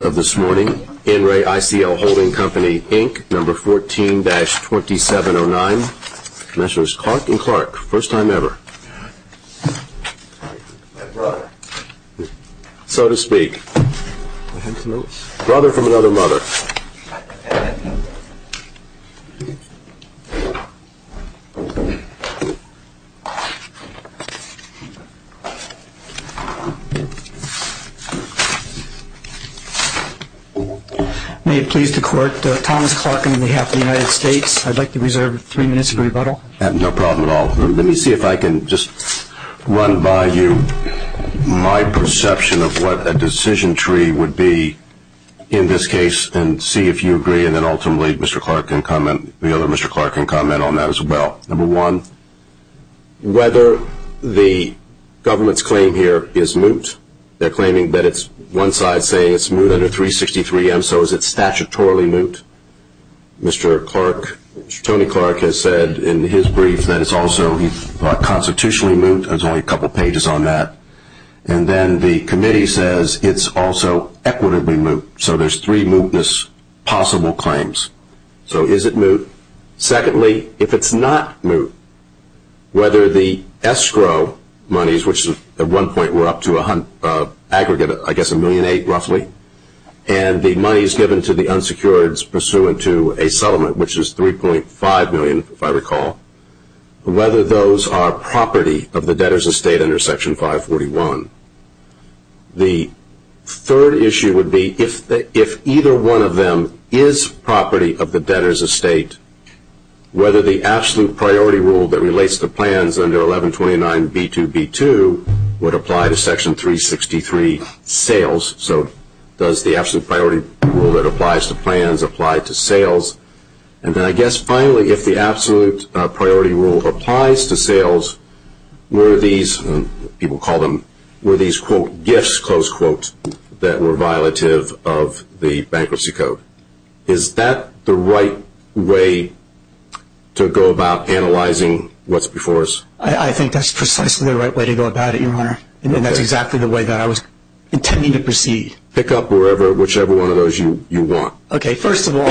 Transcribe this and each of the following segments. of this morning, In Re ICL Holding Company Inc, number 14-2709. Commissioners Clark and Clark, first time ever. My brother. So to speak. I have some notes. Brother from another mother. May it please the court, Thomas Clark on behalf of the United States. I'd like to reserve three minutes of rebuttal. No problem at all. Let me see if I can just run by you my perception of what a decision tree would be in this case and see if you agree and then ultimately Mr. Clark can comment, the other Mr. Clark can comment on that as well. Number one, whether the government's claim here is moot. They're claiming that it's one side saying it's moot under 363M. So is it statutorily moot? Mr. Clark, Tony Clark has said in his brief that it's also constitutionally moot. There's only a couple pages on that. And then the committee says it's also equitably moot. So there's three mootness possible claims. So is it moot? Secondly, if it's not moot, whether the escrow monies, which at one point were up to an aggregate, I guess, $1.8 million roughly, and the monies given to the unsecured pursuant to a settlement, which is $3.5 million if I recall, whether those are property of the debtors of state under Section 541. The third issue would be if either one of them is property of the debtors of state, whether the absolute priority rule that relates to plans under 1129B2B2 would apply to Section 363 sales. So does the absolute priority rule that applies to plans apply to sales? And then I guess finally, if the absolute priority rule applies to sales, were these, people call them, were these, quote, gifts, close quote, that were violative of the Bankruptcy Code? Is that the right way to go about analyzing what's before us? I think that's precisely the right way to go about it, Your Honor. And that's exactly the way that I was intending to proceed. Pick up whichever one of those you want. Okay, first of all,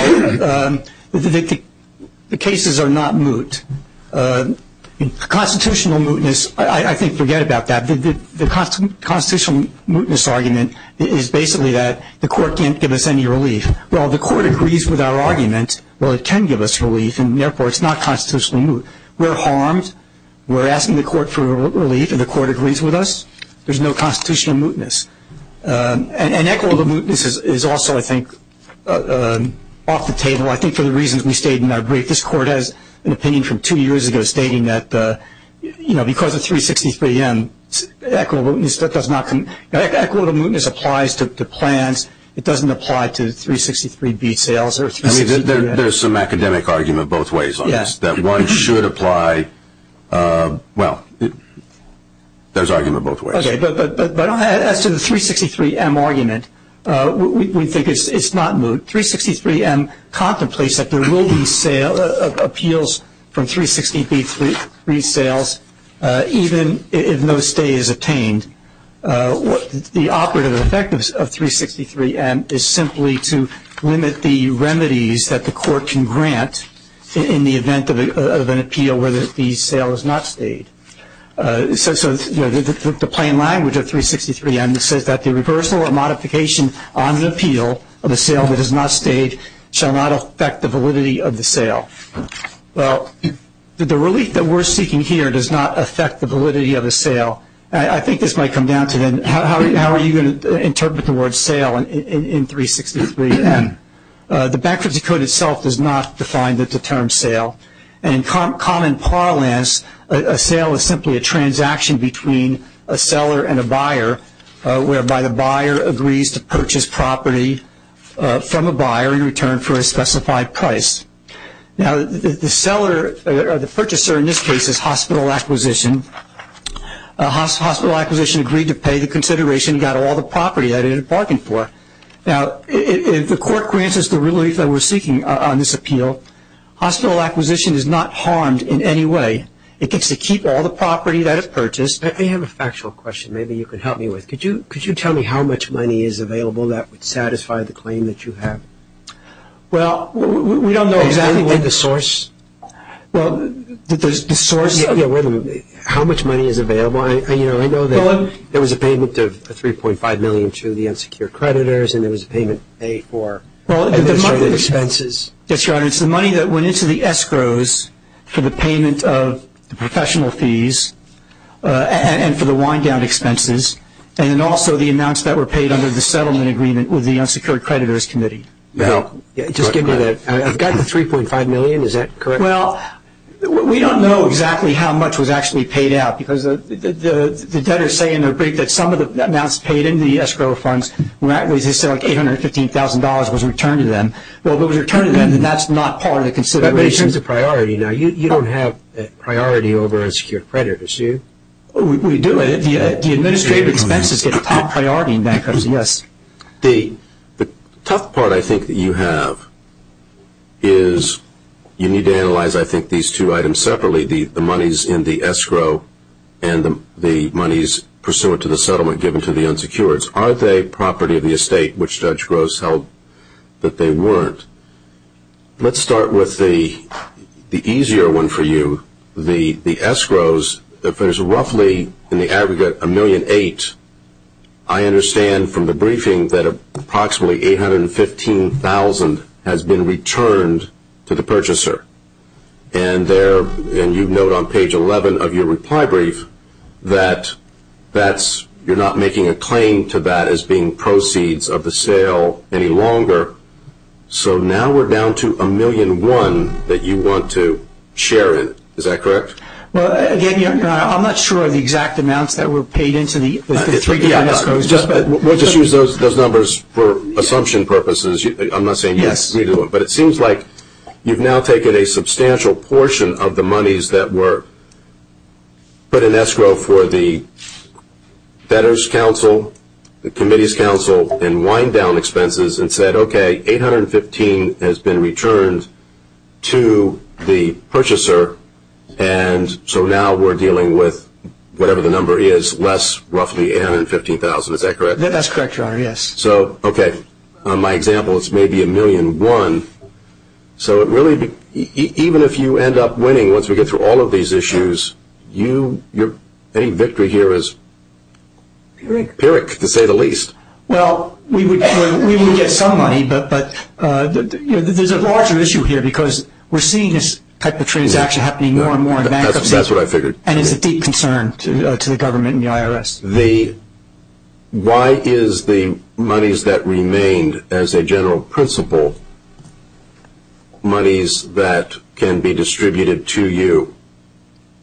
the cases are not moot. Constitutional mootness, I think, forget about that. The constitutional mootness argument is basically that the Court can't give us any relief. Well, the Court agrees with our argument. Well, it can give us relief, and therefore, it's not constitutionally moot. We're harmed. We're asking the Court for relief, and the Court agrees with us. There's no constitutional mootness. And equitable mootness is also, I think, off the table. I think for the reasons we stated in our brief, this Court has an opinion from two years ago stating that, you know, because of 363M, equitable mootness does not come, equitable mootness applies to plans. It doesn't apply to 363B sales or 363F. I mean, there's some academic argument both ways on this, that one should apply, well, there's argument both ways. Okay. But as to the 363M argument, we think it's not moot. 363M contemplates that there will be appeals from 363B sales even if no stay is obtained. The operative effect of 363M is simply to limit the remedies that the Court can grant in the event of an appeal where the sale is not stayed. So, you know, the plain language of 363M says that the reversal or modification on an appeal of a sale that is not stayed shall not affect the validity of the sale. Well, the relief that we're seeking here does not affect the validity of a sale. I think this might come down to then how are you going to interpret the word sale in 363M. The bankruptcy code itself does not define the term sale. And in common parlance, a sale is simply a transaction between a seller and a buyer whereby the buyer agrees to purchase property from a buyer in return for a specified price. Now, the seller or the purchaser in this case is hospital acquisition. Hospital acquisition agreed to pay the consideration and got all the property that it had bargained for. Now, if the Court grants us the relief that we're seeking on this appeal, hospital acquisition is not harmed in any way. It gets to keep all the property that it purchased. I have a factual question maybe you could help me with. Could you tell me how much money is available that would satisfy the claim that you have? Well, we don't know exactly where the source of how much money is available. You know, I know that there was a payment of 3.5 million to the insecure creditors and there was a payment paid for administrative expenses. Yes, Your Honor. It's the money that went into the escrows for the payment of the professional fees and for the wind-down expenses, and then also the amounts that were paid under the settlement agreement with the insecure creditors committee. Now, just give me that. I've got the 3.5 million. Is that correct? Well, we don't know exactly how much was actually paid out because the debtors say in their brief that some of the amounts paid in the escrow funds was like $815,000 was returned to them. Well, if it was returned to them, then that's not part of the consideration. But in terms of priority, now, you don't have priority over insecure creditors, do you? We do. The administrative expenses get the top priority in bankruptcy, yes. The tough part I think that you have is you need to analyze, I think, these two items separately, the monies in the escrow and the monies pursuant to the settlement given to the insecurities. Are they property of the estate, which Judge Gross held that they weren't? Let's start with the easier one for you, the escrows. If there's roughly in the aggregate $1.8 million, I understand from the briefing that approximately $815,000 has been returned to the purchaser. And you note on page 11 of your reply brief that you're not making a claim to that as being proceeds of the sale any longer. So now we're down to $1.1 million that you want to share in. Is that correct? Well, again, I'm not sure of the exact amounts that were paid into the three different escrows. We'll just use those numbers for assumption purposes. I'm not saying you need to redo it. But it seems like you've now taken a substantial portion of the monies that were put in escrow for the debtor's counsel, the committee's counsel, and wind-down expenses and said, okay, $815,000 has been returned to the purchaser. And so now we're dealing with, whatever the number is, less roughly $815,000. Is that correct? That's correct, Your Honor, yes. So, okay, on my example, it's maybe $1.1 million. So even if you end up winning once we get through all of these issues, any victory here is pyrrhic, to say the least. Well, we would get some money, but there's a larger issue here because we're seeing this type of transaction happening more and more in bankruptcy. That's what I figured. Why is the monies that remained as a general principle monies that can be distributed to you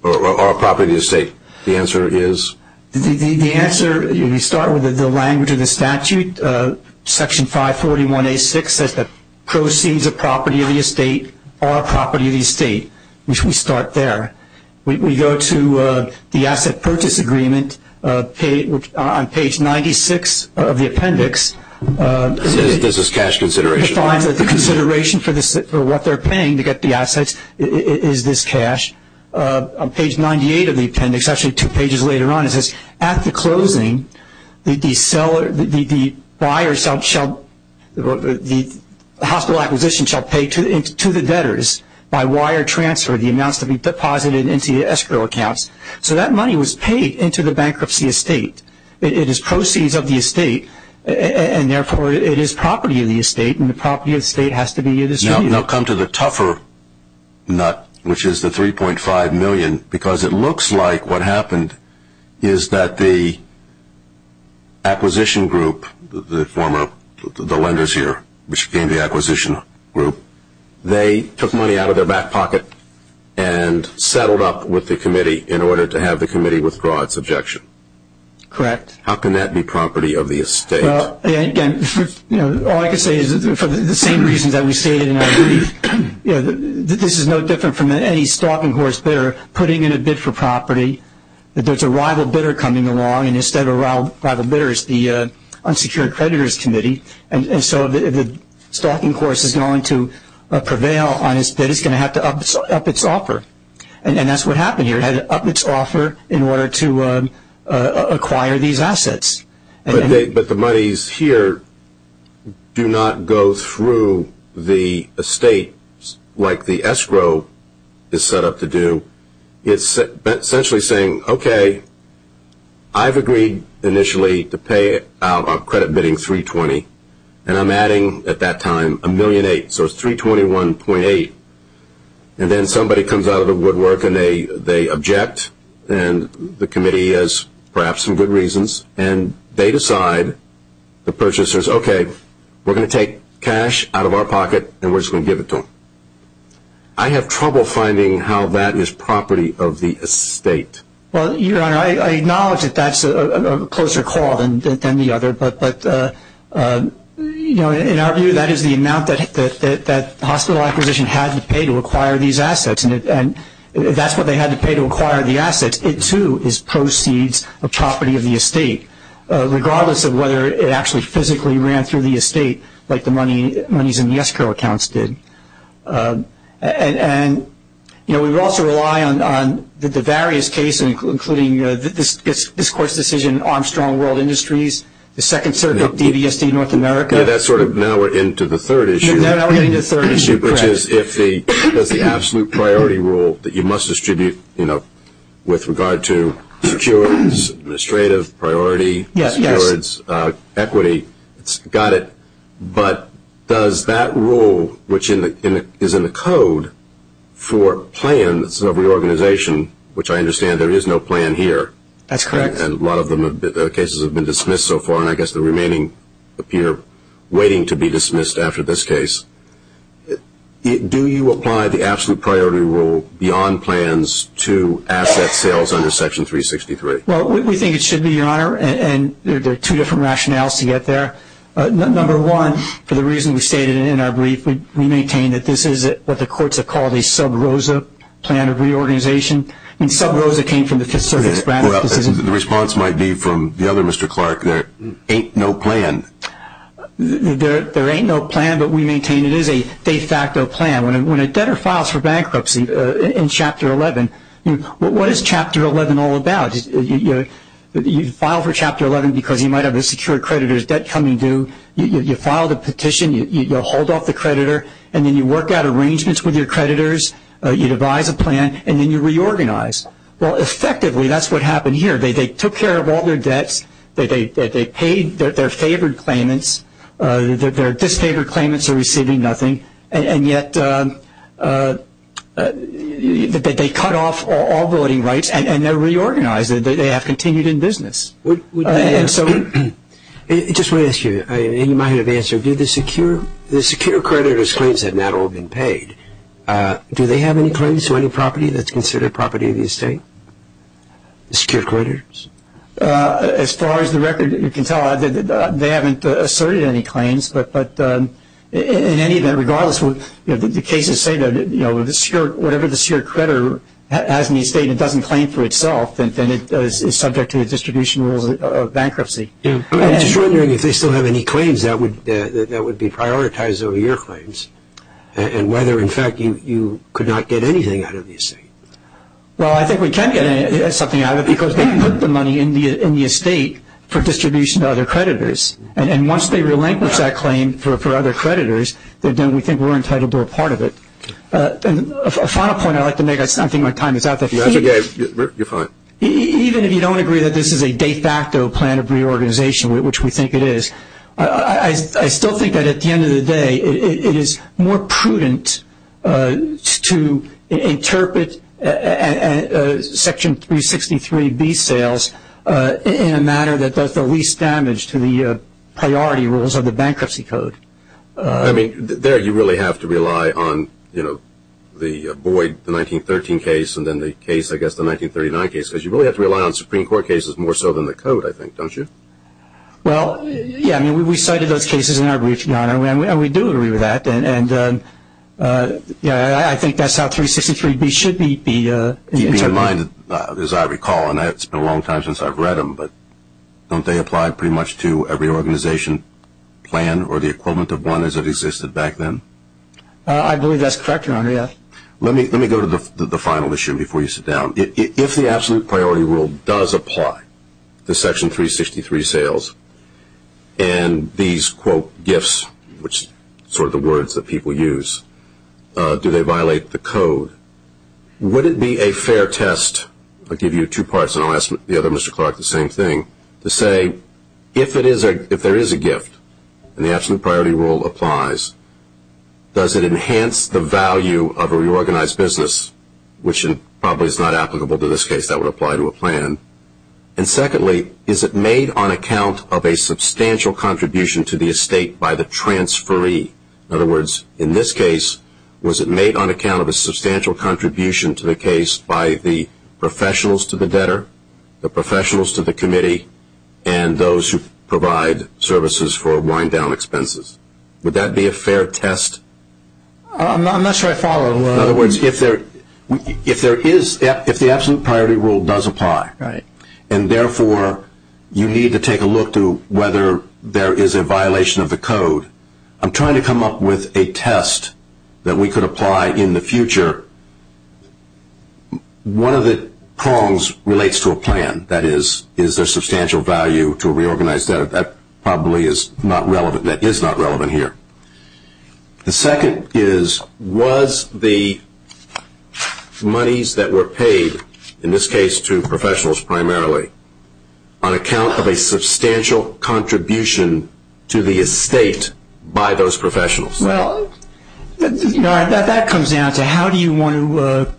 or property of the estate? The answer is? The answer, you start with the language of the statute, Section 541A6, says that proceeds of property of the estate are property of the estate, which we start there. We go to the asset purchase agreement on page 96 of the appendix. It says this is cash consideration. It defines that the consideration for what they're paying to get the assets is this cash. On page 98 of the appendix, actually two pages later on, it says, at the closing, the hospital acquisition shall pay to the debtors by wire transfer the amounts to be deposited into the escrow accounts. So that money was paid into the bankruptcy estate. It is proceeds of the estate, and therefore it is property of the estate, and the property of the estate has to be distributed. Now come to the tougher nut, which is the $3.5 million, because it looks like what happened is that the acquisition group, the former, the lenders here, which became the acquisition group, they took money out of their back pocket and settled up with the committee in order to have the committee withdraw its objection. Correct. How can that be property of the estate? Again, all I can say is for the same reasons that we stated in our brief, this is no different from any stocking horse bidder putting in a bid for property. If there's a rival bidder coming along, and instead of rival bidders, the unsecured creditors committee, and so if the stocking horse is going to prevail on its bid, it's going to have to up its offer. And that's what happened here. It had to up its offer in order to acquire these assets. But the monies here do not go through the estate like the escrow is set up to do. It's essentially saying, okay, I've agreed initially to pay out a credit bidding $320,000, and I'm adding at that time $1.8 million, so it's $321.8 million. And then somebody comes out of the woodwork and they object, and the committee has perhaps some good reasons, and they decide, the purchasers, okay, we're going to take cash out of our pocket, and we're just going to give it to them. I have trouble finding how that is property of the estate. Well, Your Honor, I acknowledge that that's a closer call than the other, but, you know, in our view, that is the amount that hospital acquisition had to pay to acquire these assets, and that's what they had to pay to acquire the assets. It, too, is proceeds of property of the estate, regardless of whether it actually physically ran through the estate like the monies in the escrow accounts did. And, you know, we also rely on the various cases, including this Court's decision, Armstrong World Industries, the second circuit of DVSD North America. Yeah, that's sort of now we're into the third issue. Now we're getting to the third issue, correct. Which is if there's the absolute priority rule that you must distribute, you know, with regard to securities, administrative, priority, securities, equity. Got it. But does that rule, which is in the code for plans of reorganization, which I understand there is no plan here. That's correct. And a lot of the cases have been dismissed so far, and I guess the remaining appear waiting to be dismissed after this case. Do you apply the absolute priority rule beyond plans to asset sales under Section 363? Well, we think it should be, Your Honor, and there are two different rationales to get there. Number one, for the reason we stated in our brief, we maintain that this is what the courts have called a sub rosa plan of reorganization. And sub rosa came from the Fifth Circuit's ratification. The response might be from the other Mr. Clark, there ain't no plan. There ain't no plan, but we maintain it is a de facto plan. When a debtor files for bankruptcy in Chapter 11, what is Chapter 11 all about? You file for Chapter 11 because you might have a secured creditor's debt coming due. You file the petition. You hold off the creditor, and then you work out arrangements with your creditors. You devise a plan, and then you reorganize. Well, effectively, that's what happened here. They took care of all their debts. They paid their favored claimants. Their disfavored claimants are receiving nothing. And yet they cut off all voting rights, and they're reorganized. They have continued in business. I just want to ask you, and you might have answered, do the secured creditor's claims have not all been paid? Do they have any claims to any property that's considered property of the estate? The secured creditors? As far as the record, you can tell they haven't asserted any claims. But in any event, regardless, the cases say that whatever the secured creditor has in the estate, if it doesn't claim for itself, then it is subject to the distribution rules of bankruptcy. I'm just wondering if they still have any claims that would be prioritized over your claims and whether, in fact, you could not get anything out of the estate. Well, I think we can get something out of it because they put the money in the estate for distribution to other creditors. And once they relinquish that claim for other creditors, then we think we're entitled to a part of it. A final point I'd like to make. I don't think my time is up. If you have to go, you're fine. Even if you don't agree that this is a de facto plan of reorganization, which we think it is, I still think that at the end of the day it is more prudent to interpret Section 363B sales in a manner that does the least damage to the priority rules of the bankruptcy code. I mean, there you really have to rely on the Boyd, the 1913 case, and then the case, I guess, the 1939 case, because you really have to rely on Supreme Court cases more so than the code, I think, don't you? Well, yeah, I mean, we cited those cases in our brief, John, and we do agree with that. And, yeah, I think that's how 363B should be interpreted. Keep in mind, as I recall, and it's been a long time since I've read them, but don't they apply pretty much to every organization plan or the equivalent of one as it existed back then? I believe that's correct, Your Honor. Let me go to the final issue before you sit down. If the absolute priority rule does apply to Section 363 sales and these, quote, gifts, which are sort of the words that people use, do they violate the code? Would it be a fair test? I'll give you two parts, and I'll ask the other Mr. Clark the same thing, to say if there is a gift and the absolute priority rule applies, does it enhance the value of a reorganized business, which probably is not applicable to this case, that would apply to a plan? And, secondly, is it made on account of a substantial contribution to the estate by the transferee? In other words, in this case, was it made on account of a substantial contribution to the case by the professionals to the debtor, the professionals to the committee, and those who provide services for wind-down expenses? Would that be a fair test? I'm not sure I follow. In other words, if there is, if the absolute priority rule does apply, and therefore you need to take a look to whether there is a violation of the code, I'm trying to come up with a test that we could apply in the future. One of the prongs relates to a plan. That is, is there substantial value to a reorganized debtor? That probably is not relevant. That is not relevant here. The second is, was the monies that were paid, in this case to professionals primarily, on account of a substantial contribution to the estate by those professionals? Well, that comes down to how do you want to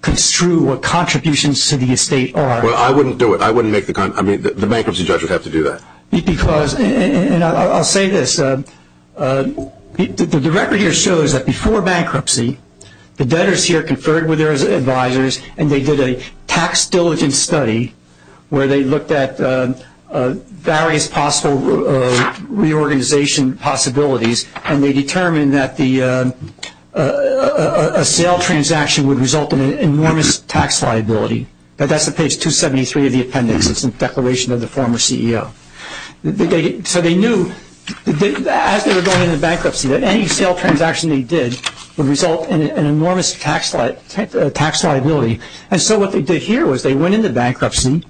construe what contributions to the estate are? Well, I wouldn't do it. I wouldn't make the, I mean, the bankruptcy judge would have to do that. Because, and I'll say this, the record here shows that before bankruptcy, the debtors here conferred with their advisors, and they did a tax diligence study where they looked at various possible reorganization possibilities, and they determined that a sale transaction would result in an enormous tax liability. That's on page 273 of the appendix. It's a declaration of the former CEO. So they knew, as they were going into bankruptcy, that any sale transaction they did would result in an enormous tax liability. And so what they did here was they went into bankruptcy,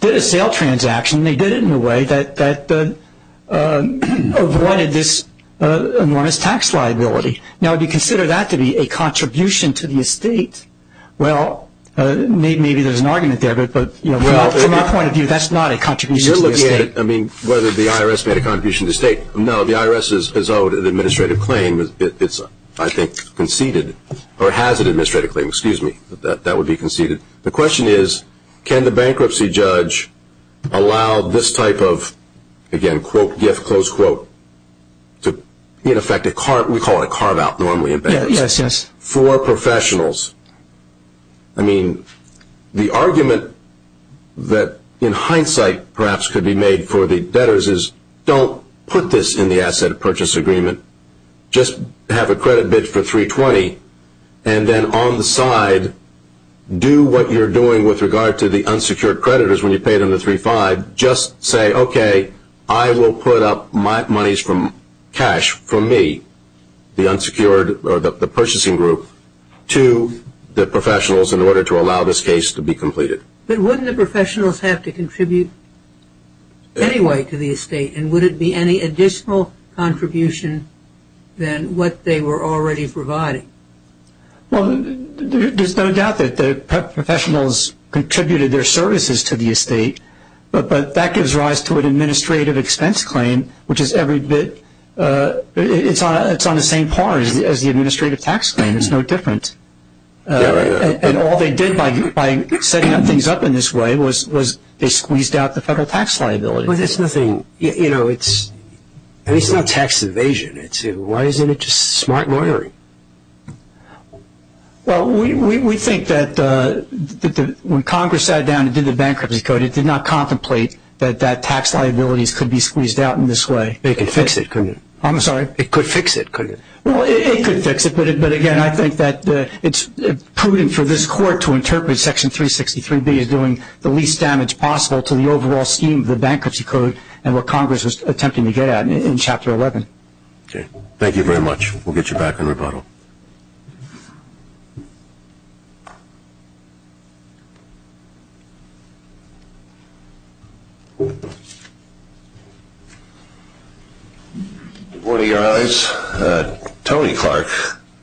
did a sale transaction, and they did it in a way that avoided this enormous tax liability. Now, if you consider that to be a contribution to the estate, well, maybe there's an argument there, but from our point of view, that's not a contribution to the estate. You're looking at it, I mean, whether the IRS made a contribution to the estate. No, the IRS is owed an administrative claim. It's, I think, conceded, or has an administrative claim. Excuse me. That would be conceded. The question is, can the bankruptcy judge allow this type of, again, quote, gift, close quote, to, in effect, we call it carve out normally in bankruptcy, for professionals. I mean, the argument that, in hindsight, perhaps could be made for the debtors is, don't put this in the asset purchase agreement. Just have a credit bid for 320, and then on the side, do what you're doing with regard to the unsecured creditors when you pay them the 35. Just say, okay, I will put up monies from cash for me, the unsecured, or the purchasing group, to the professionals in order to allow this case to be completed. But wouldn't the professionals have to contribute anyway to the estate, and would it be any additional contribution than what they were already providing? Well, there's no doubt that the professionals contributed their services to the estate, but that gives rise to an administrative expense claim, which is every bit, it's on the same par as the administrative tax claim. It's no different. And all they did by setting things up in this way was they squeezed out the federal tax liability. But it's nothing, you know, it's not tax evasion. Why isn't it just smart lawyering? Well, we think that when Congress sat down and did the bankruptcy code, it did not contemplate that that tax liability could be squeezed out in this way. But it could fix it, couldn't it? I'm sorry? It could fix it, couldn't it? Well, it could fix it. But, again, I think that it's prudent for this court to interpret Section 363B as doing the least damage possible to the overall scheme of the bankruptcy code and what Congress was attempting to get at in Chapter 11. Okay. Thank you very much. We'll get you back in rebuttal. Good morning, your Honors. Tony Clark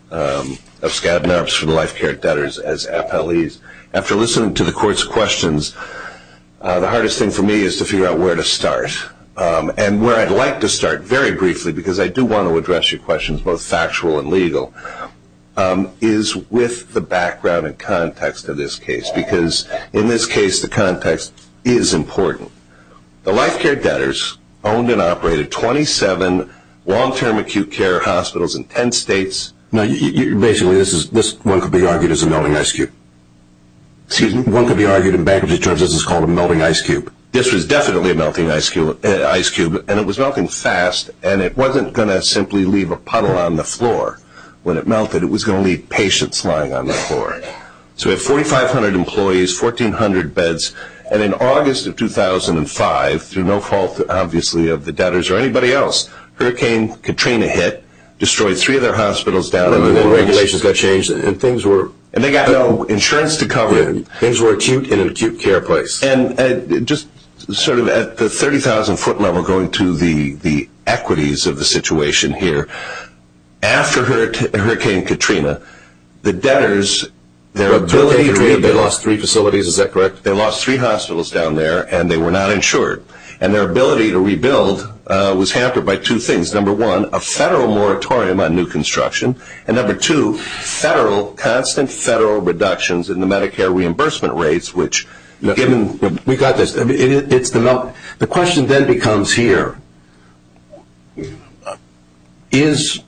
of Skadden Arabs for the Life Care Debtors as appellees. After listening to the court's questions, the hardest thing for me is to figure out where to start and where I'd like to start very briefly because I do want to address your questions both factual and legal. One is with the background and context of this case because, in this case, the context is important. The Life Care Debtors owned and operated 27 long-term acute care hospitals in 10 states. Now, basically, this one could be argued as a melting ice cube. Excuse me? One could be argued in bankruptcy terms as it's called a melting ice cube. This was definitely a melting ice cube, and it was melting fast, and it wasn't going to simply leave a puddle on the floor. When it melted, it was going to leave patients lying on the floor. So we have 4,500 employees, 1,400 beds, and in August of 2005, through no fault, obviously, of the debtors or anybody else, Hurricane Katrina hit, destroyed three of their hospitals down in the wilderness. And then regulations got changed, and things were – And they got no insurance to cover it. Things were acute in an acute care place. And just sort of at the 30,000-foot level, going to the equities of the situation here, after Hurricane Katrina, the debtors, their ability to rebuild – They lost three facilities. Is that correct? They lost three hospitals down there, and they were not insured. And their ability to rebuild was hampered by two things. Number one, a federal moratorium on new construction. And number two, federal – constant federal reductions in the Medicare reimbursement rates, which, given – We got this. It's the melt – The question then becomes here, is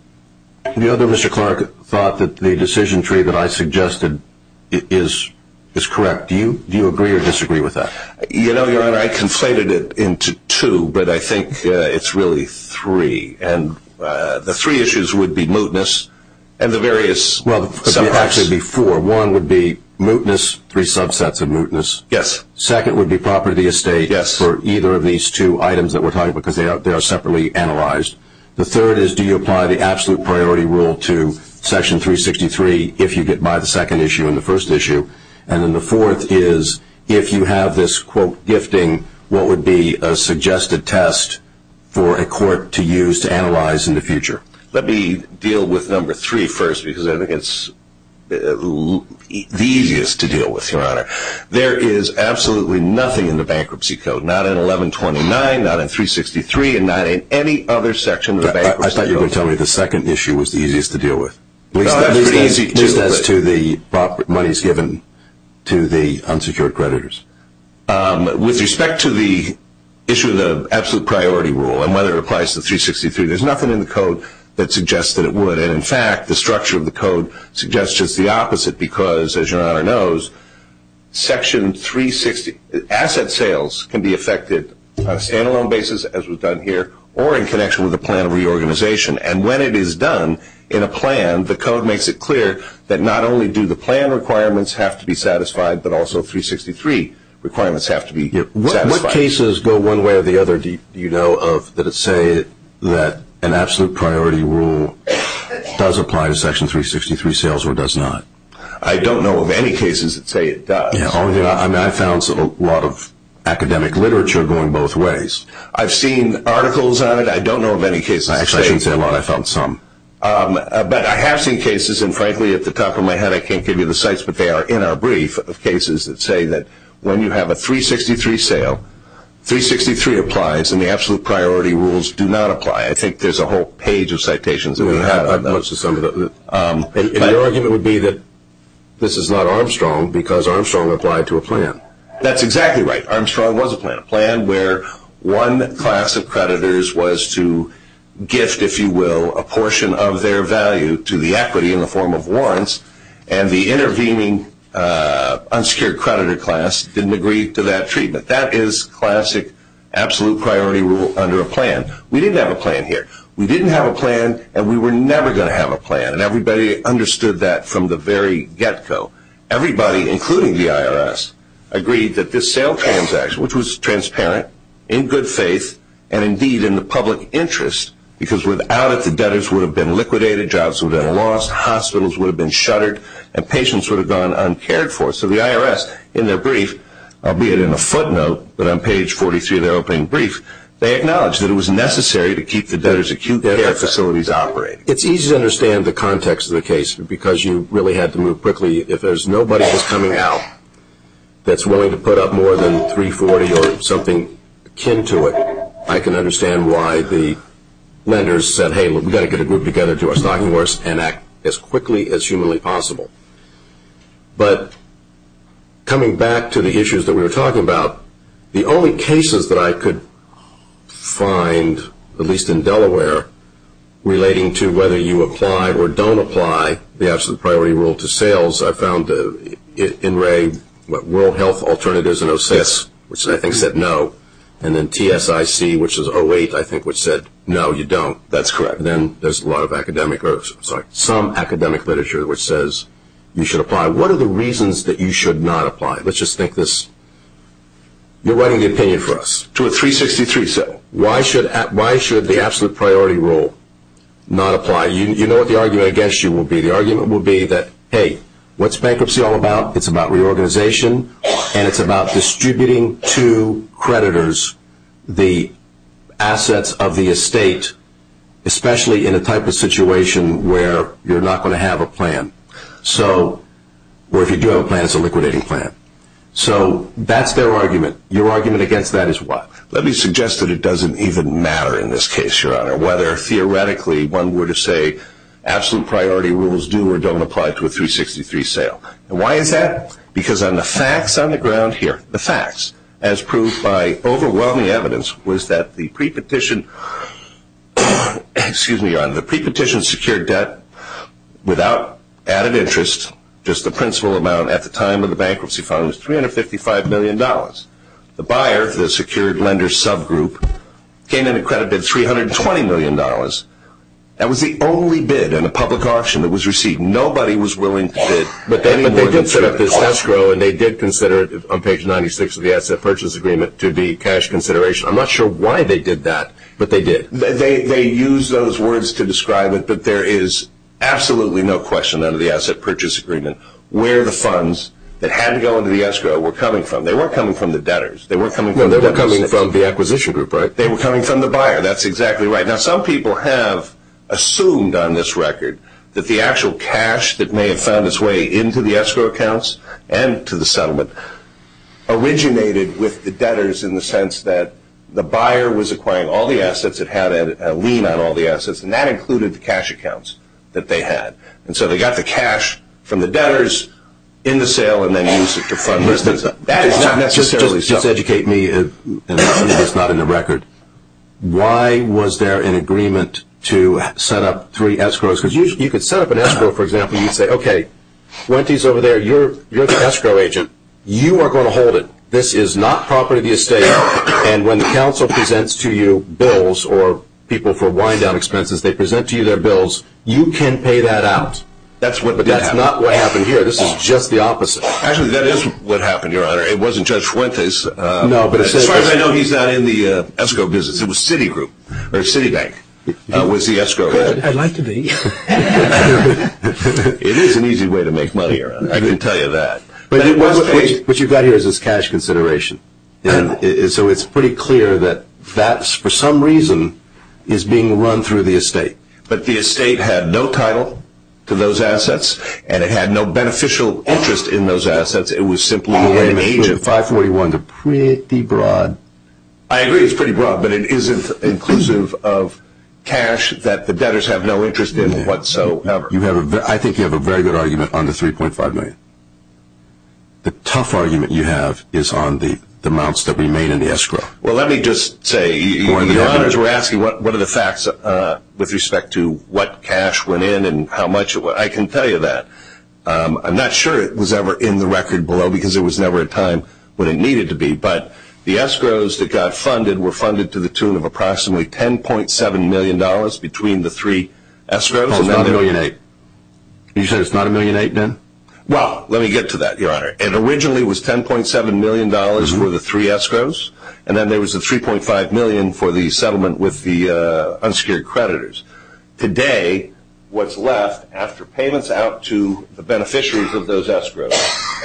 the other – Mr. Clark thought that the decision tree that I suggested is correct. Do you agree or disagree with that? You know, Your Honor, I conflated it into two, but I think it's really three. And the three issues would be mootness and the various – Well, it would actually be four. Number one would be mootness, three subsets of mootness. Yes. Second would be property estate for either of these two items that we're talking about, because they are separately analyzed. The third is, do you apply the absolute priority rule to Section 363 if you get by the second issue and the first issue? And then the fourth is, if you have this, quote, gifting, what would be a suggested test for a court to use to analyze in the future? Let me deal with number three first, because I think it's the easiest to deal with, Your Honor. There is absolutely nothing in the Bankruptcy Code, not in 1129, not in 363, and not in any other section of the Bankruptcy Code. I thought you were going to tell me the second issue was the easiest to deal with, at least as to the money that's given to the unsecured creditors. With respect to the issue of the absolute priority rule and whether it applies to 363, there's nothing in the Code that suggests that it would. And, in fact, the structure of the Code suggests just the opposite, because, as Your Honor knows, Section 360 asset sales can be affected on a stand-alone basis, as was done here, or in connection with a plan of reorganization. And when it is done in a plan, the Code makes it clear that not only do the plan requirements have to be satisfied, but also 363 requirements have to be satisfied. What cases go one way or the other, do you know of, that say that an absolute priority rule does apply to Section 363 sales or does not? I don't know of any cases that say it does. I found a lot of academic literature going both ways. I've seen articles on it. I don't know of any cases that say it does. Actually, I shouldn't say a lot. I found some. But I have seen cases, and frankly, at the top of my head, I can't give you the sites, but they are in our brief of cases that say that when you have a 363 sale, 363 applies and the absolute priority rules do not apply. I think there's a whole page of citations. And your argument would be that this is not Armstrong because Armstrong applied to a plan. That's exactly right. Armstrong was a plan. A plan where one class of creditors was to gift, if you will, and the intervening unsecured creditor class didn't agree to that treatment. That is classic absolute priority rule under a plan. We didn't have a plan here. We didn't have a plan and we were never going to have a plan, and everybody understood that from the very get-go. Everybody, including the IRS, agreed that this sale transaction, which was transparent, in good faith, and indeed in the public interest, because without it, the debtors would have been liquidated, jobs would have been lost, hospitals would have been shuttered, and patients would have gone uncared for. So the IRS, in their brief, albeit in a footnote, but on page 43 of their opening brief, they acknowledged that it was necessary to keep the debtors' acute care facilities operating. It's easy to understand the context of the case because you really had to move quickly. If there's nobody that's coming out that's willing to put up more than 340 or something akin to it, I can understand why the lenders said, Hey, we've got to get a group together to do our stocking for us and act as quickly as humanly possible. But coming back to the issues that we were talking about, the only cases that I could find, at least in Delaware, relating to whether you apply or don't apply the absolute priority rule to sales, I found the NRA World Health Alternatives and OCS, which I think said no, and then TSIC, which is 08, I think, which said no, you don't. That's correct. Then there's some academic literature which says you should apply. What are the reasons that you should not apply? Let's just think this. You're writing the opinion for us to a 363. Why should the absolute priority rule not apply? You know what the argument against you will be. The argument will be that, hey, what's bankruptcy all about? It's about reorganization, and it's about distributing to creditors the assets of the estate, especially in a type of situation where you're not going to have a plan, or if you do have a plan, it's a liquidating plan. So that's their argument. Your argument against that is what? Let me suggest that it doesn't even matter in this case, Your Honor, whether theoretically one were to say absolute priority rules do or don't apply to a 363 sale. Why is that? Because on the facts on the ground here, the facts, as proved by overwhelming evidence, was that the prepetition secured debt without added interest, just the principal amount at the time of the bankruptcy fund was $355 million. The buyer, the secured lender subgroup, came in and credited $320 million. That was the only bid in a public auction that was received. Nobody was willing to bid. But they did set up this escrow, and they did consider it on page 96 of the Asset Purchase Agreement to be cash consideration. I'm not sure why they did that, but they did. They used those words to describe it, but there is absolutely no question under the Asset Purchase Agreement where the funds that had to go into the escrow were coming from. They weren't coming from the debtors. No, they were coming from the acquisition group, right? They were coming from the buyer. That's exactly right. Now, some people have assumed on this record that the actual cash that may have found its way into the escrow accounts and to the settlement originated with the debtors in the sense that the buyer was acquiring all the assets. It had a lien on all the assets, and that included the cash accounts that they had. And so they got the cash from the debtors in the sale and then used it to fund business. That is not necessarily so. Just to educate me, and I believe it's not in the record, why was there an agreement to set up three escrows? Because you could set up an escrow, for example, and you'd say, okay, Fuentes over there, you're the escrow agent. You are going to hold it. This is not property of the estate, and when the council presents to you bills or people for wind-down expenses, they present to you their bills. You can pay that out. But that's not what happened here. This is just the opposite. Actually, that is what happened, Your Honor. It wasn't Judge Fuentes. As far as I know, he's not in the escrow business. It was Citibank that was the escrow agent. I'd like to be. It is an easy way to make money, Your Honor. I can tell you that. What you've got here is this cash consideration. So it's pretty clear that that, for some reason, is being run through the estate. But the estate had no title to those assets, and it had no beneficial interest in those assets. It was simply an agent. 541 is pretty broad. I agree it's pretty broad, but it isn't inclusive of cash that the debtors have no interest in whatsoever. I think you have a very good argument on the $3.5 million. The tough argument you have is on the amounts that remain in the escrow. Well, let me just say, Your Honors, we're asking what are the facts with respect to what cash went in and how much it went. I can tell you that. I'm not sure it was ever in the record below because there was never a time when it needed to be. But the escrows that got funded were funded to the tune of approximately $10.7 million between the three escrows. It's not $1.8 million. You said it's not $1.8 million then? Well, let me get to that, Your Honor. It originally was $10.7 million for the three escrows, and then there was the $3.5 million for the settlement with the unsecured creditors. Today, what's left after payments out to the beneficiaries of those escrows,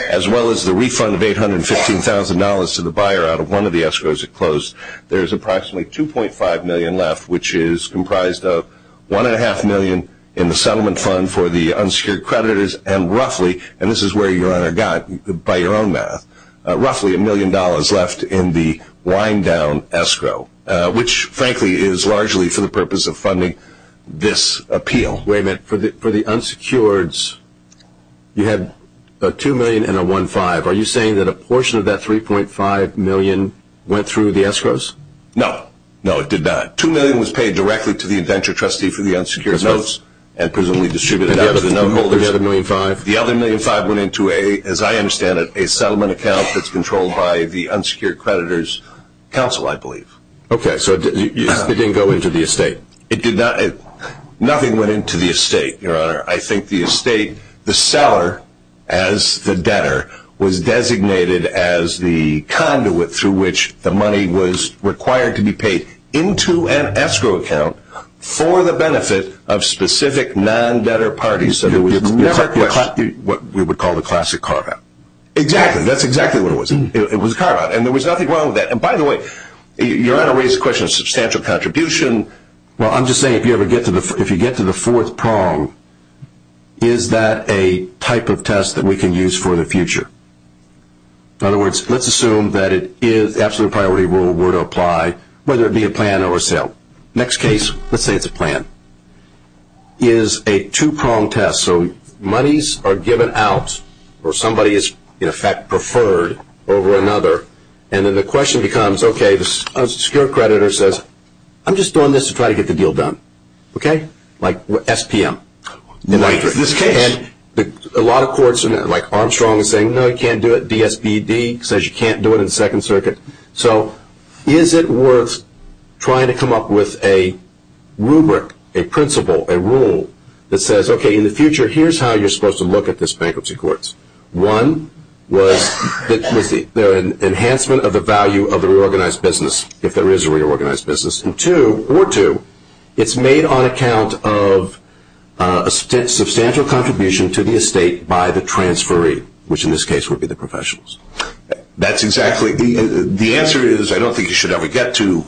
as well as the refund of $815,000 to the buyer out of one of the escrows that closed, there's approximately $2.5 million left, which is comprised of $1.5 million in the settlement fund for the unsecured creditors and roughly, and this is where, Your Honor, by your own math, roughly $1 million left in the wind-down escrow, which frankly is largely for the purpose of funding this appeal. Wait a minute. For the unsecureds, you had a $2 million and a $1.5 million. Are you saying that a portion of that $3.5 million went through the escrows? No. No, it did not. $2 million was paid directly to the adventure trustee for the unsecured notes and presumably distributed out to the note holders. The other $1.5 million? The other $1.5 million went into a, as I understand it, a settlement account that's controlled by the unsecured creditors council, I believe. Okay, so it didn't go into the estate. It did not. Nothing went into the estate, Your Honor. I think the estate, the seller as the debtor, was designated as the conduit through which the money was required to be paid into an escrow account for the benefit of specific non-debtor parties. What we would call the classic carve-out. Exactly. That's exactly what it was. It was a carve-out. And there was nothing wrong with that. And by the way, Your Honor raised the question of substantial contribution. Well, I'm just saying if you get to the fourth prong, is that a type of test that we can use for the future? In other words, let's assume that the absolute priority rule were to apply, whether it be a plan or a sale. Next case, let's say it's a plan. A plan is a two-pronged test. So monies are given out or somebody is, in effect, preferred over another. And then the question becomes, okay, the secure creditor says, I'm just doing this to try to get the deal done. Okay? Like SPM. In this case. And a lot of courts, like Armstrong is saying, no, you can't do it. DSPD says you can't do it in Second Circuit. So is it worth trying to come up with a rubric, a principle, a rule that says, okay, in the future, here's how you're supposed to look at this bankruptcy courts. One was the enhancement of the value of the reorganized business, if there is a reorganized business. And two, or two, it's made on account of a substantial contribution to the estate by the transferee, which in this case would be the professionals. That's exactly. The answer is, I don't think you should ever get to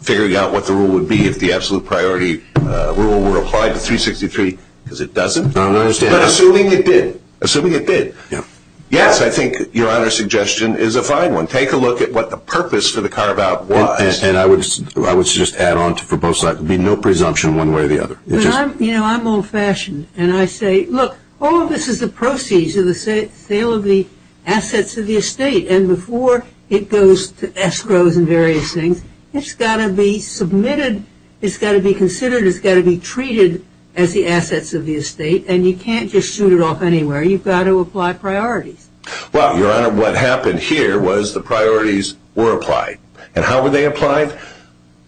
figuring out what the rule would be if the absolute priority rule were applied to 363, because it doesn't. I understand. But assuming it did. Assuming it did. Yeah. Yes, I think your honor's suggestion is a fine one. Take a look at what the purpose for the carve-out was. And I would suggest, add on to for both sides, there would be no presumption one way or the other. You know, I'm old-fashioned, and I say, look, all of this is the proceeds of the sale of the assets of the estate. And before it goes to escrows and various things, it's got to be submitted. It's got to be considered. It's got to be treated as the assets of the estate. And you can't just shoot it off anywhere. You've got to apply priorities. Well, your honor, what happened here was the priorities were applied. And how were they applied?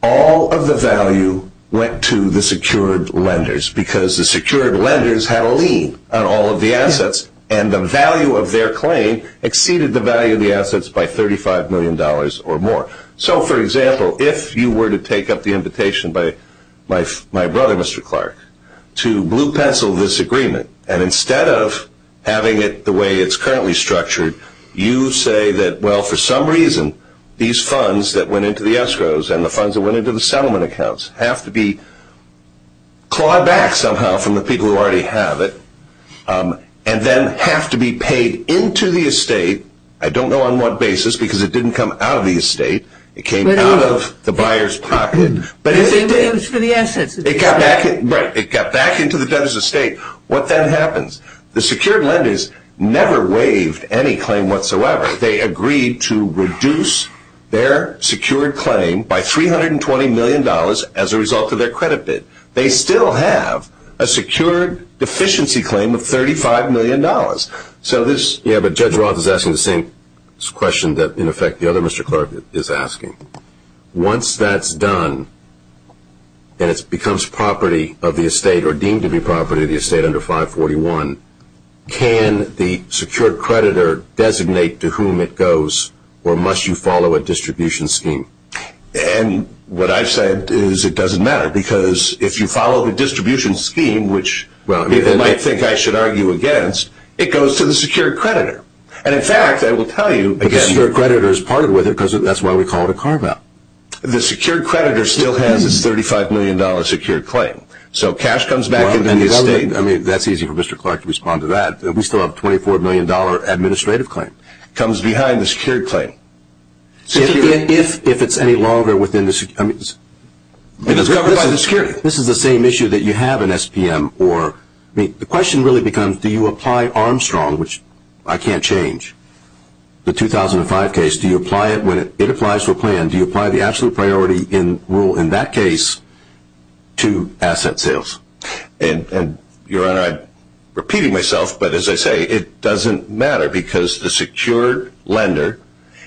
All of the value went to the secured lenders, because the secured lenders had a lien on all of the assets, and the value of their claim exceeded the value of the assets by $35 million or more. So, for example, if you were to take up the invitation by my brother, Mr. Clark, to blue-pencil this agreement, and instead of having it the way it's currently structured, you say that, well, for some reason, these funds that went into the escrows and the funds that went into the settlement accounts have to be clawed back somehow from the people who already have it and then have to be paid into the estate. I don't know on what basis, because it didn't come out of the estate. It came out of the buyer's pocket. It was for the assets. Right. It got back into the debtor's estate. What then happens? The secured lenders never waived any claim whatsoever. They agreed to reduce their secured claim by $320 million as a result of their credit bid. They still have a secured deficiency claim of $35 million. Yeah, but Judge Roth is asking the same question that, in effect, the other Mr. Clark is asking. Once that's done and it becomes property of the estate or deemed to be property of the estate under 541, can the secured creditor designate to whom it goes, or must you follow a distribution scheme? And what I've said is it doesn't matter, because if you follow the distribution scheme, which people might think I should argue against, it goes to the secured creditor. And, in fact, I will tell you, the secured creditor is part of it because that's why we call it a carve-out. The secured creditor still has its $35 million secured claim. So cash comes back into the estate. I mean, that's easy for Mr. Clark to respond to that. We still have a $24 million administrative claim. It comes behind the secured claim. If it's any longer within the secured claim. It is covered by the secured claim. This is the same issue that you have in SPM. The question really becomes, do you apply Armstrong, which I can't change, the 2005 case, do you apply it when it applies to a plan, do you apply the absolute priority rule in that case to asset sales? And, Your Honor, I'm repeating myself, but as I say, it doesn't matter, because the secured lender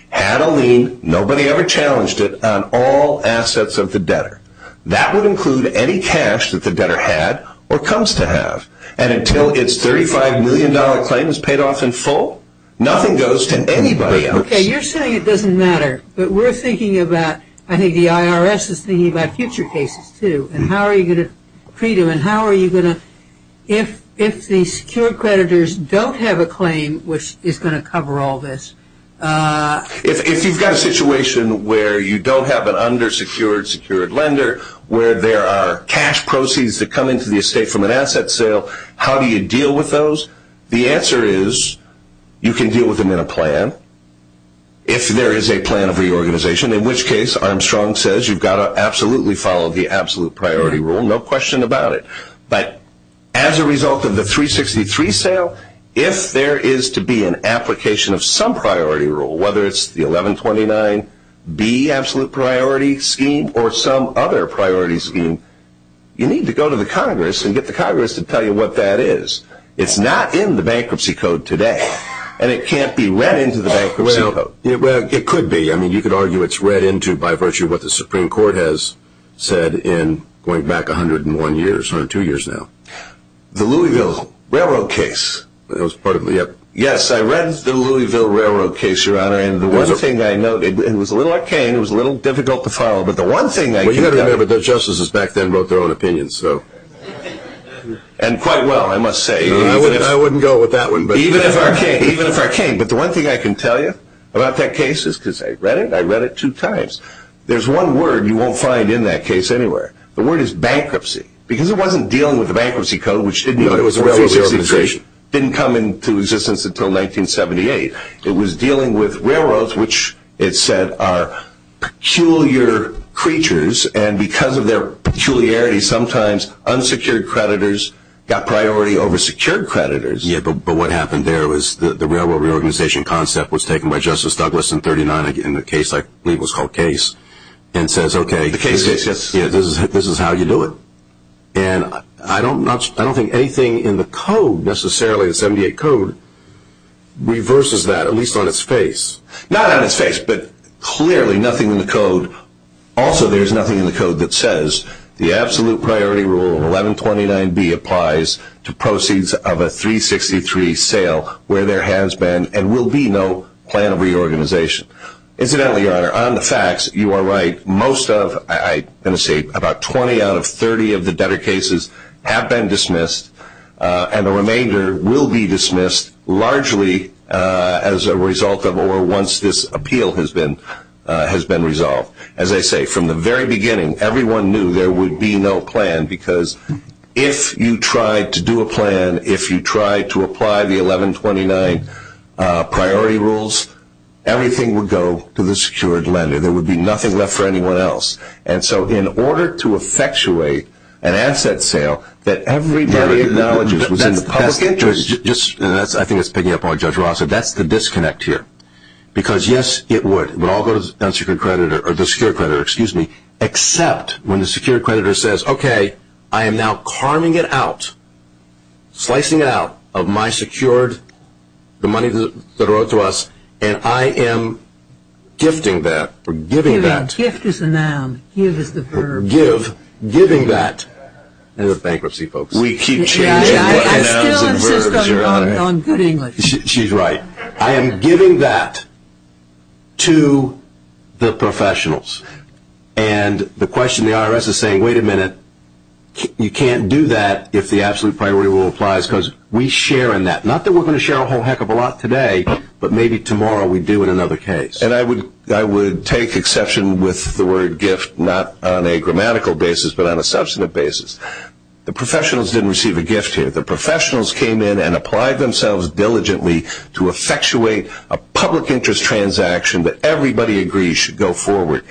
had a lien, nobody ever challenged it, on all assets of the debtor. That would include any cash that the debtor had or comes to have. And until its $35 million claim is paid off in full, nothing goes to anybody else. Okay, you're saying it doesn't matter. But we're thinking about, I think the IRS is thinking about future cases, too. Freedom, and how are you going to, if the secured creditors don't have a claim which is going to cover all this. If you've got a situation where you don't have an undersecured secured lender, where there are cash proceeds that come into the estate from an asset sale, how do you deal with those? The answer is, you can deal with them in a plan, if there is a plan of reorganization, in which case Armstrong says you've got to absolutely follow the absolute priority rule, no question about it. But as a result of the 363 sale, if there is to be an application of some priority rule, whether it's the 1129B absolute priority scheme or some other priority scheme, you need to go to the Congress and get the Congress to tell you what that is. It's not in the Bankruptcy Code today, and it can't be read into the Bankruptcy Code. Well, it could be. You could argue it's read into by virtue of what the Supreme Court has said going back 102 years now. The Louisville Railroad case. Yes, I read the Louisville Railroad case, Your Honor, and the one thing I noted, it was a little arcane, it was a little difficult to follow, but the one thing I can tell you... Well, you've got to remember, the justices back then wrote their own opinions, so... And quite well, I must say. I wouldn't go with that one. Even if arcane. But the one thing I can tell you about that case is, because I read it, I read it two times, there's one word you won't find in that case anywhere. The word is bankruptcy. Because it wasn't dealing with the Bankruptcy Code, which didn't come into existence until 1978. It was dealing with railroads, which it said are peculiar creatures, and because of their peculiarity, sometimes unsecured creditors got priority over secured creditors. Yeah, but what happened there was the railroad reorganization concept was taken by Justice Douglas in 39, in a case I believe was called Case, and says, okay, this is how you do it. And I don't think anything in the code necessarily, the 78 Code, reverses that, at least on its face. Not on its face, but clearly nothing in the code. Also, there's nothing in the code that says, the absolute priority rule of 1129B applies to proceeds of a 363 sale where there has been and will be no plan of reorganization. Incidentally, Your Honor, on the facts, you are right. Most of, I'm going to say about 20 out of 30 of the debtor cases have been dismissed, and the remainder will be dismissed largely as a result of or once this appeal has been resolved. As I say, from the very beginning, everyone knew there would be no plan, because if you tried to do a plan, if you tried to apply the 1129 priority rules, everything would go to the secured lender. There would be nothing left for anyone else. And so in order to effectuate an asset sale that everybody acknowledges was in the public interest. I think that's picking up on what Judge Ross said. That's the disconnect here. Because, yes, it would. It would all go to the secured creditor, except when the secured creditor says, okay, I am now carving it out, slicing it out of my secured, the money that wrote to us, and I am gifting that or giving that. Giving. Gift is a noun. Give is the verb. Give. Giving that. End of bankruptcy, folks. We keep changing what nouns and verbs, Your Honor. I still insist on good English. She's right. I am giving that to the professionals. And the question the IRS is saying, wait a minute, you can't do that if the absolute priority rule applies, because we share in that. Not that we're going to share a whole heck of a lot today, but maybe tomorrow we do in another case. And I would take exception with the word gift, not on a grammatical basis, but on a substantive basis. The professionals didn't receive a gift here. The professionals came in and applied themselves diligently to effectuate a public interest transaction that everybody agrees should go forward.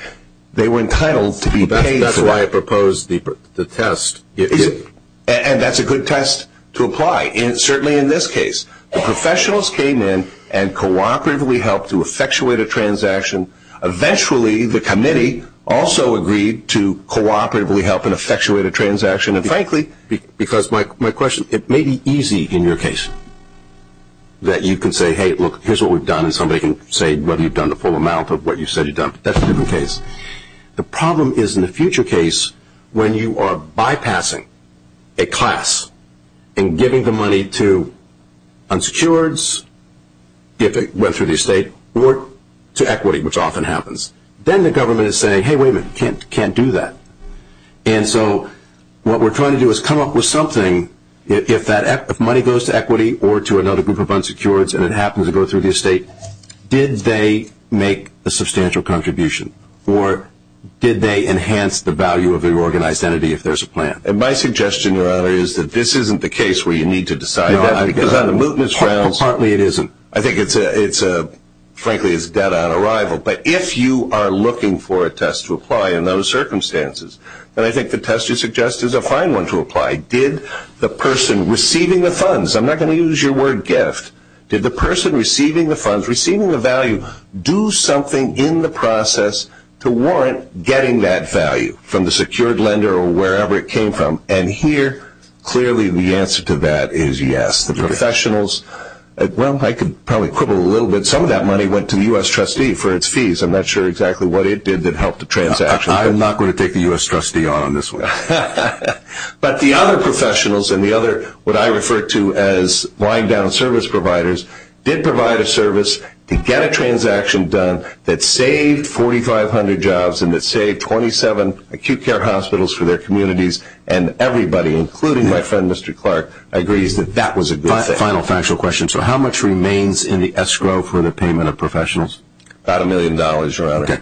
They were entitled to be paid for. That's why I proposed the test. And that's a good test to apply, certainly in this case. The professionals came in and cooperatively helped to effectuate a transaction. Eventually, the committee also agreed to cooperatively help and effectuate a transaction. And, frankly, because my question, it may be easy in your case that you can say, hey, look, here's what we've done, and somebody can say whether you've done the full amount of what you said you've done. But that's a different case. The problem is in a future case when you are bypassing a class and giving the money to unsecureds, if it went through the estate, or to equity, which often happens. Then the government is saying, hey, wait a minute, you can't do that. And so what we're trying to do is come up with something, if money goes to equity or to another group of unsecureds and it happens to go through the estate, did they make a substantial contribution? Or did they enhance the value of the organized entity if there's a plan? My suggestion, Your Honor, is that this isn't the case where you need to decide that. Partly it isn't. I think, frankly, it's a dead-on arrival. But if you are looking for a test to apply in those circumstances, then I think the test you suggest is a fine one to apply. Did the person receiving the funds, I'm not going to use your word gift, did the person receiving the funds, receiving the value, do something in the process to warrant getting that value from the secured lender or wherever it came from? And here clearly the answer to that is yes. The professionals, well, I could probably quibble a little bit. Some of that money went to the U.S. trustee for its fees. I'm not sure exactly what it did that helped the transaction. I'm not going to take the U.S. trustee on on this one. But the other professionals and the other what I refer to as lying down service providers did provide a service to get a transaction done that saved 4,500 jobs and that saved 27 acute care hospitals for their communities. And everybody, including my friend Mr. Clark, agrees that that was a good thing. Final factual question. So how much remains in the escrow for the payment of professionals? About a million dollars, Your Honor. Okay.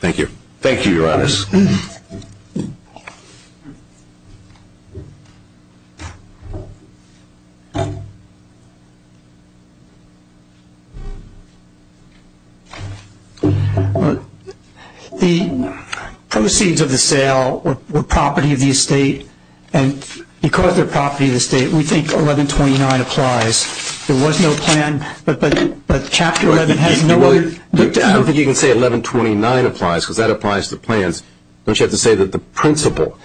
Thank you. Thank you, Your Honors. The proceeds of the sale were property of the estate, and because they're property of the estate, we think 1129 applies. There was no plan, but Chapter 11 has no other. I don't think you can say 1129 applies because that applies to plans. Don't you have to say that the principle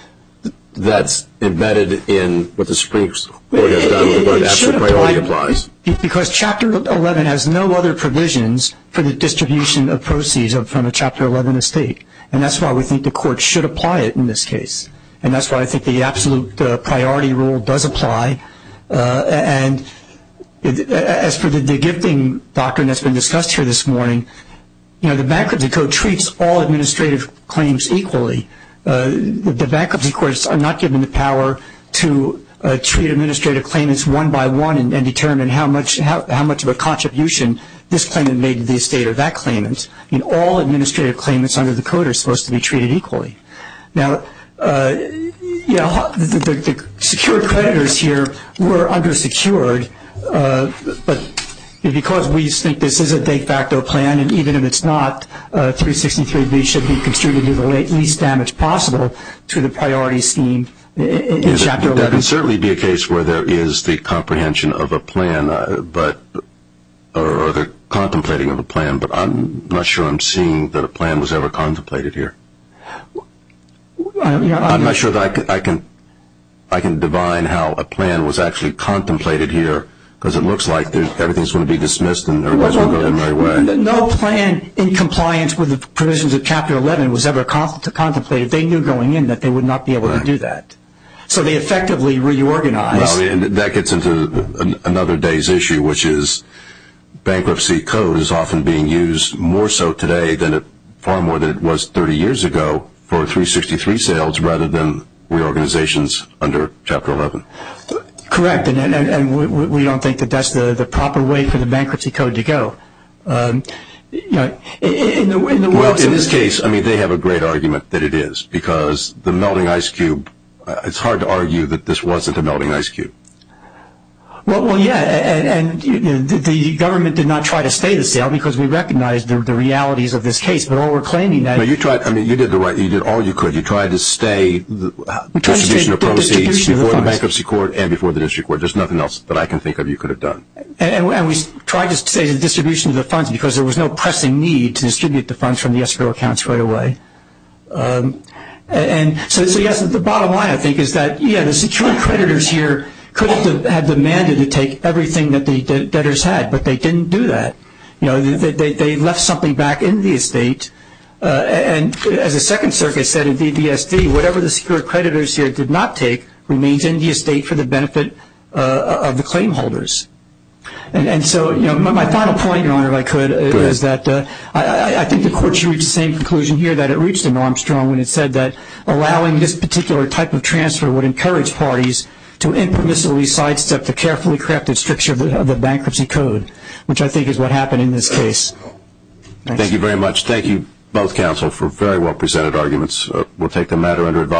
that's embedded in what the Supreme Court has done with the word absolute priority applies? Because Chapter 11 has no other provisions for the distribution of proceeds from a Chapter 11 estate, and that's why we think the court should apply it in this case, and that's why I think the absolute priority rule does apply. And as for the de-gifting doctrine that's been discussed here this morning, the Bankruptcy Code treats all administrative claims equally. The bankruptcy courts are not given the power to treat administrative claimants one by one and determine how much of a contribution this claimant made to the estate or that claimant. All administrative claimants under the Code are supposed to be treated equally. Now, you know, the secured creditors here were undersecured, but because we think this is a de facto plan, and even if it's not, 363B should be contributed to the least damage possible to the priority scheme in Chapter 11. There can certainly be a case where there is the comprehension of a plan, or the contemplating of a plan, but I'm not sure I'm seeing that a plan was ever contemplated here. I'm not sure that I can divine how a plan was actually contemplated here because it looks like everything's going to be dismissed and everybody's going to go their own way. No plan in compliance with the provisions of Chapter 11 was ever contemplated. They knew going in that they would not be able to do that, so they effectively reorganized. Well, that gets into another day's issue, which is bankruptcy code is often being used more so today far more than it was 30 years ago for 363 sales rather than reorganizations under Chapter 11. Correct, and we don't think that that's the proper way for the bankruptcy code to go. Well, in this case, I mean, they have a great argument that it is because the melting ice cube, it's hard to argue that this wasn't a melting ice cube. Well, yeah, and the government did not try to stay the sale because we recognize the realities of this case, but while we're claiming that… You did all you could. You tried to stay the distribution of proceeds before the bankruptcy court and before the district court. There's nothing else that I can think of you could have done. And we tried to stay the distribution of the funds because there was no pressing need to distribute the funds from the escrow accounts right away. And so, yes, the bottom line, I think, is that, yeah, the secure creditors here could have demanded to take everything that the debtors had, but they didn't do that. You know, they left something back in the estate, and as the Second Circuit said in DDSD, whatever the secure creditors here did not take remains in the estate for the benefit of the claim holders. And so, you know, my final point, Your Honor, if I could, is that I think the court should reach the same ground when it said that allowing this particular type of transfer would encourage parties to impermissibly sidestep the carefully crafted structure of the bankruptcy code, which I think is what happened in this case. Thank you very much. Thank you, both counsel, for very well-presented arguments. We'll take the matter under advice.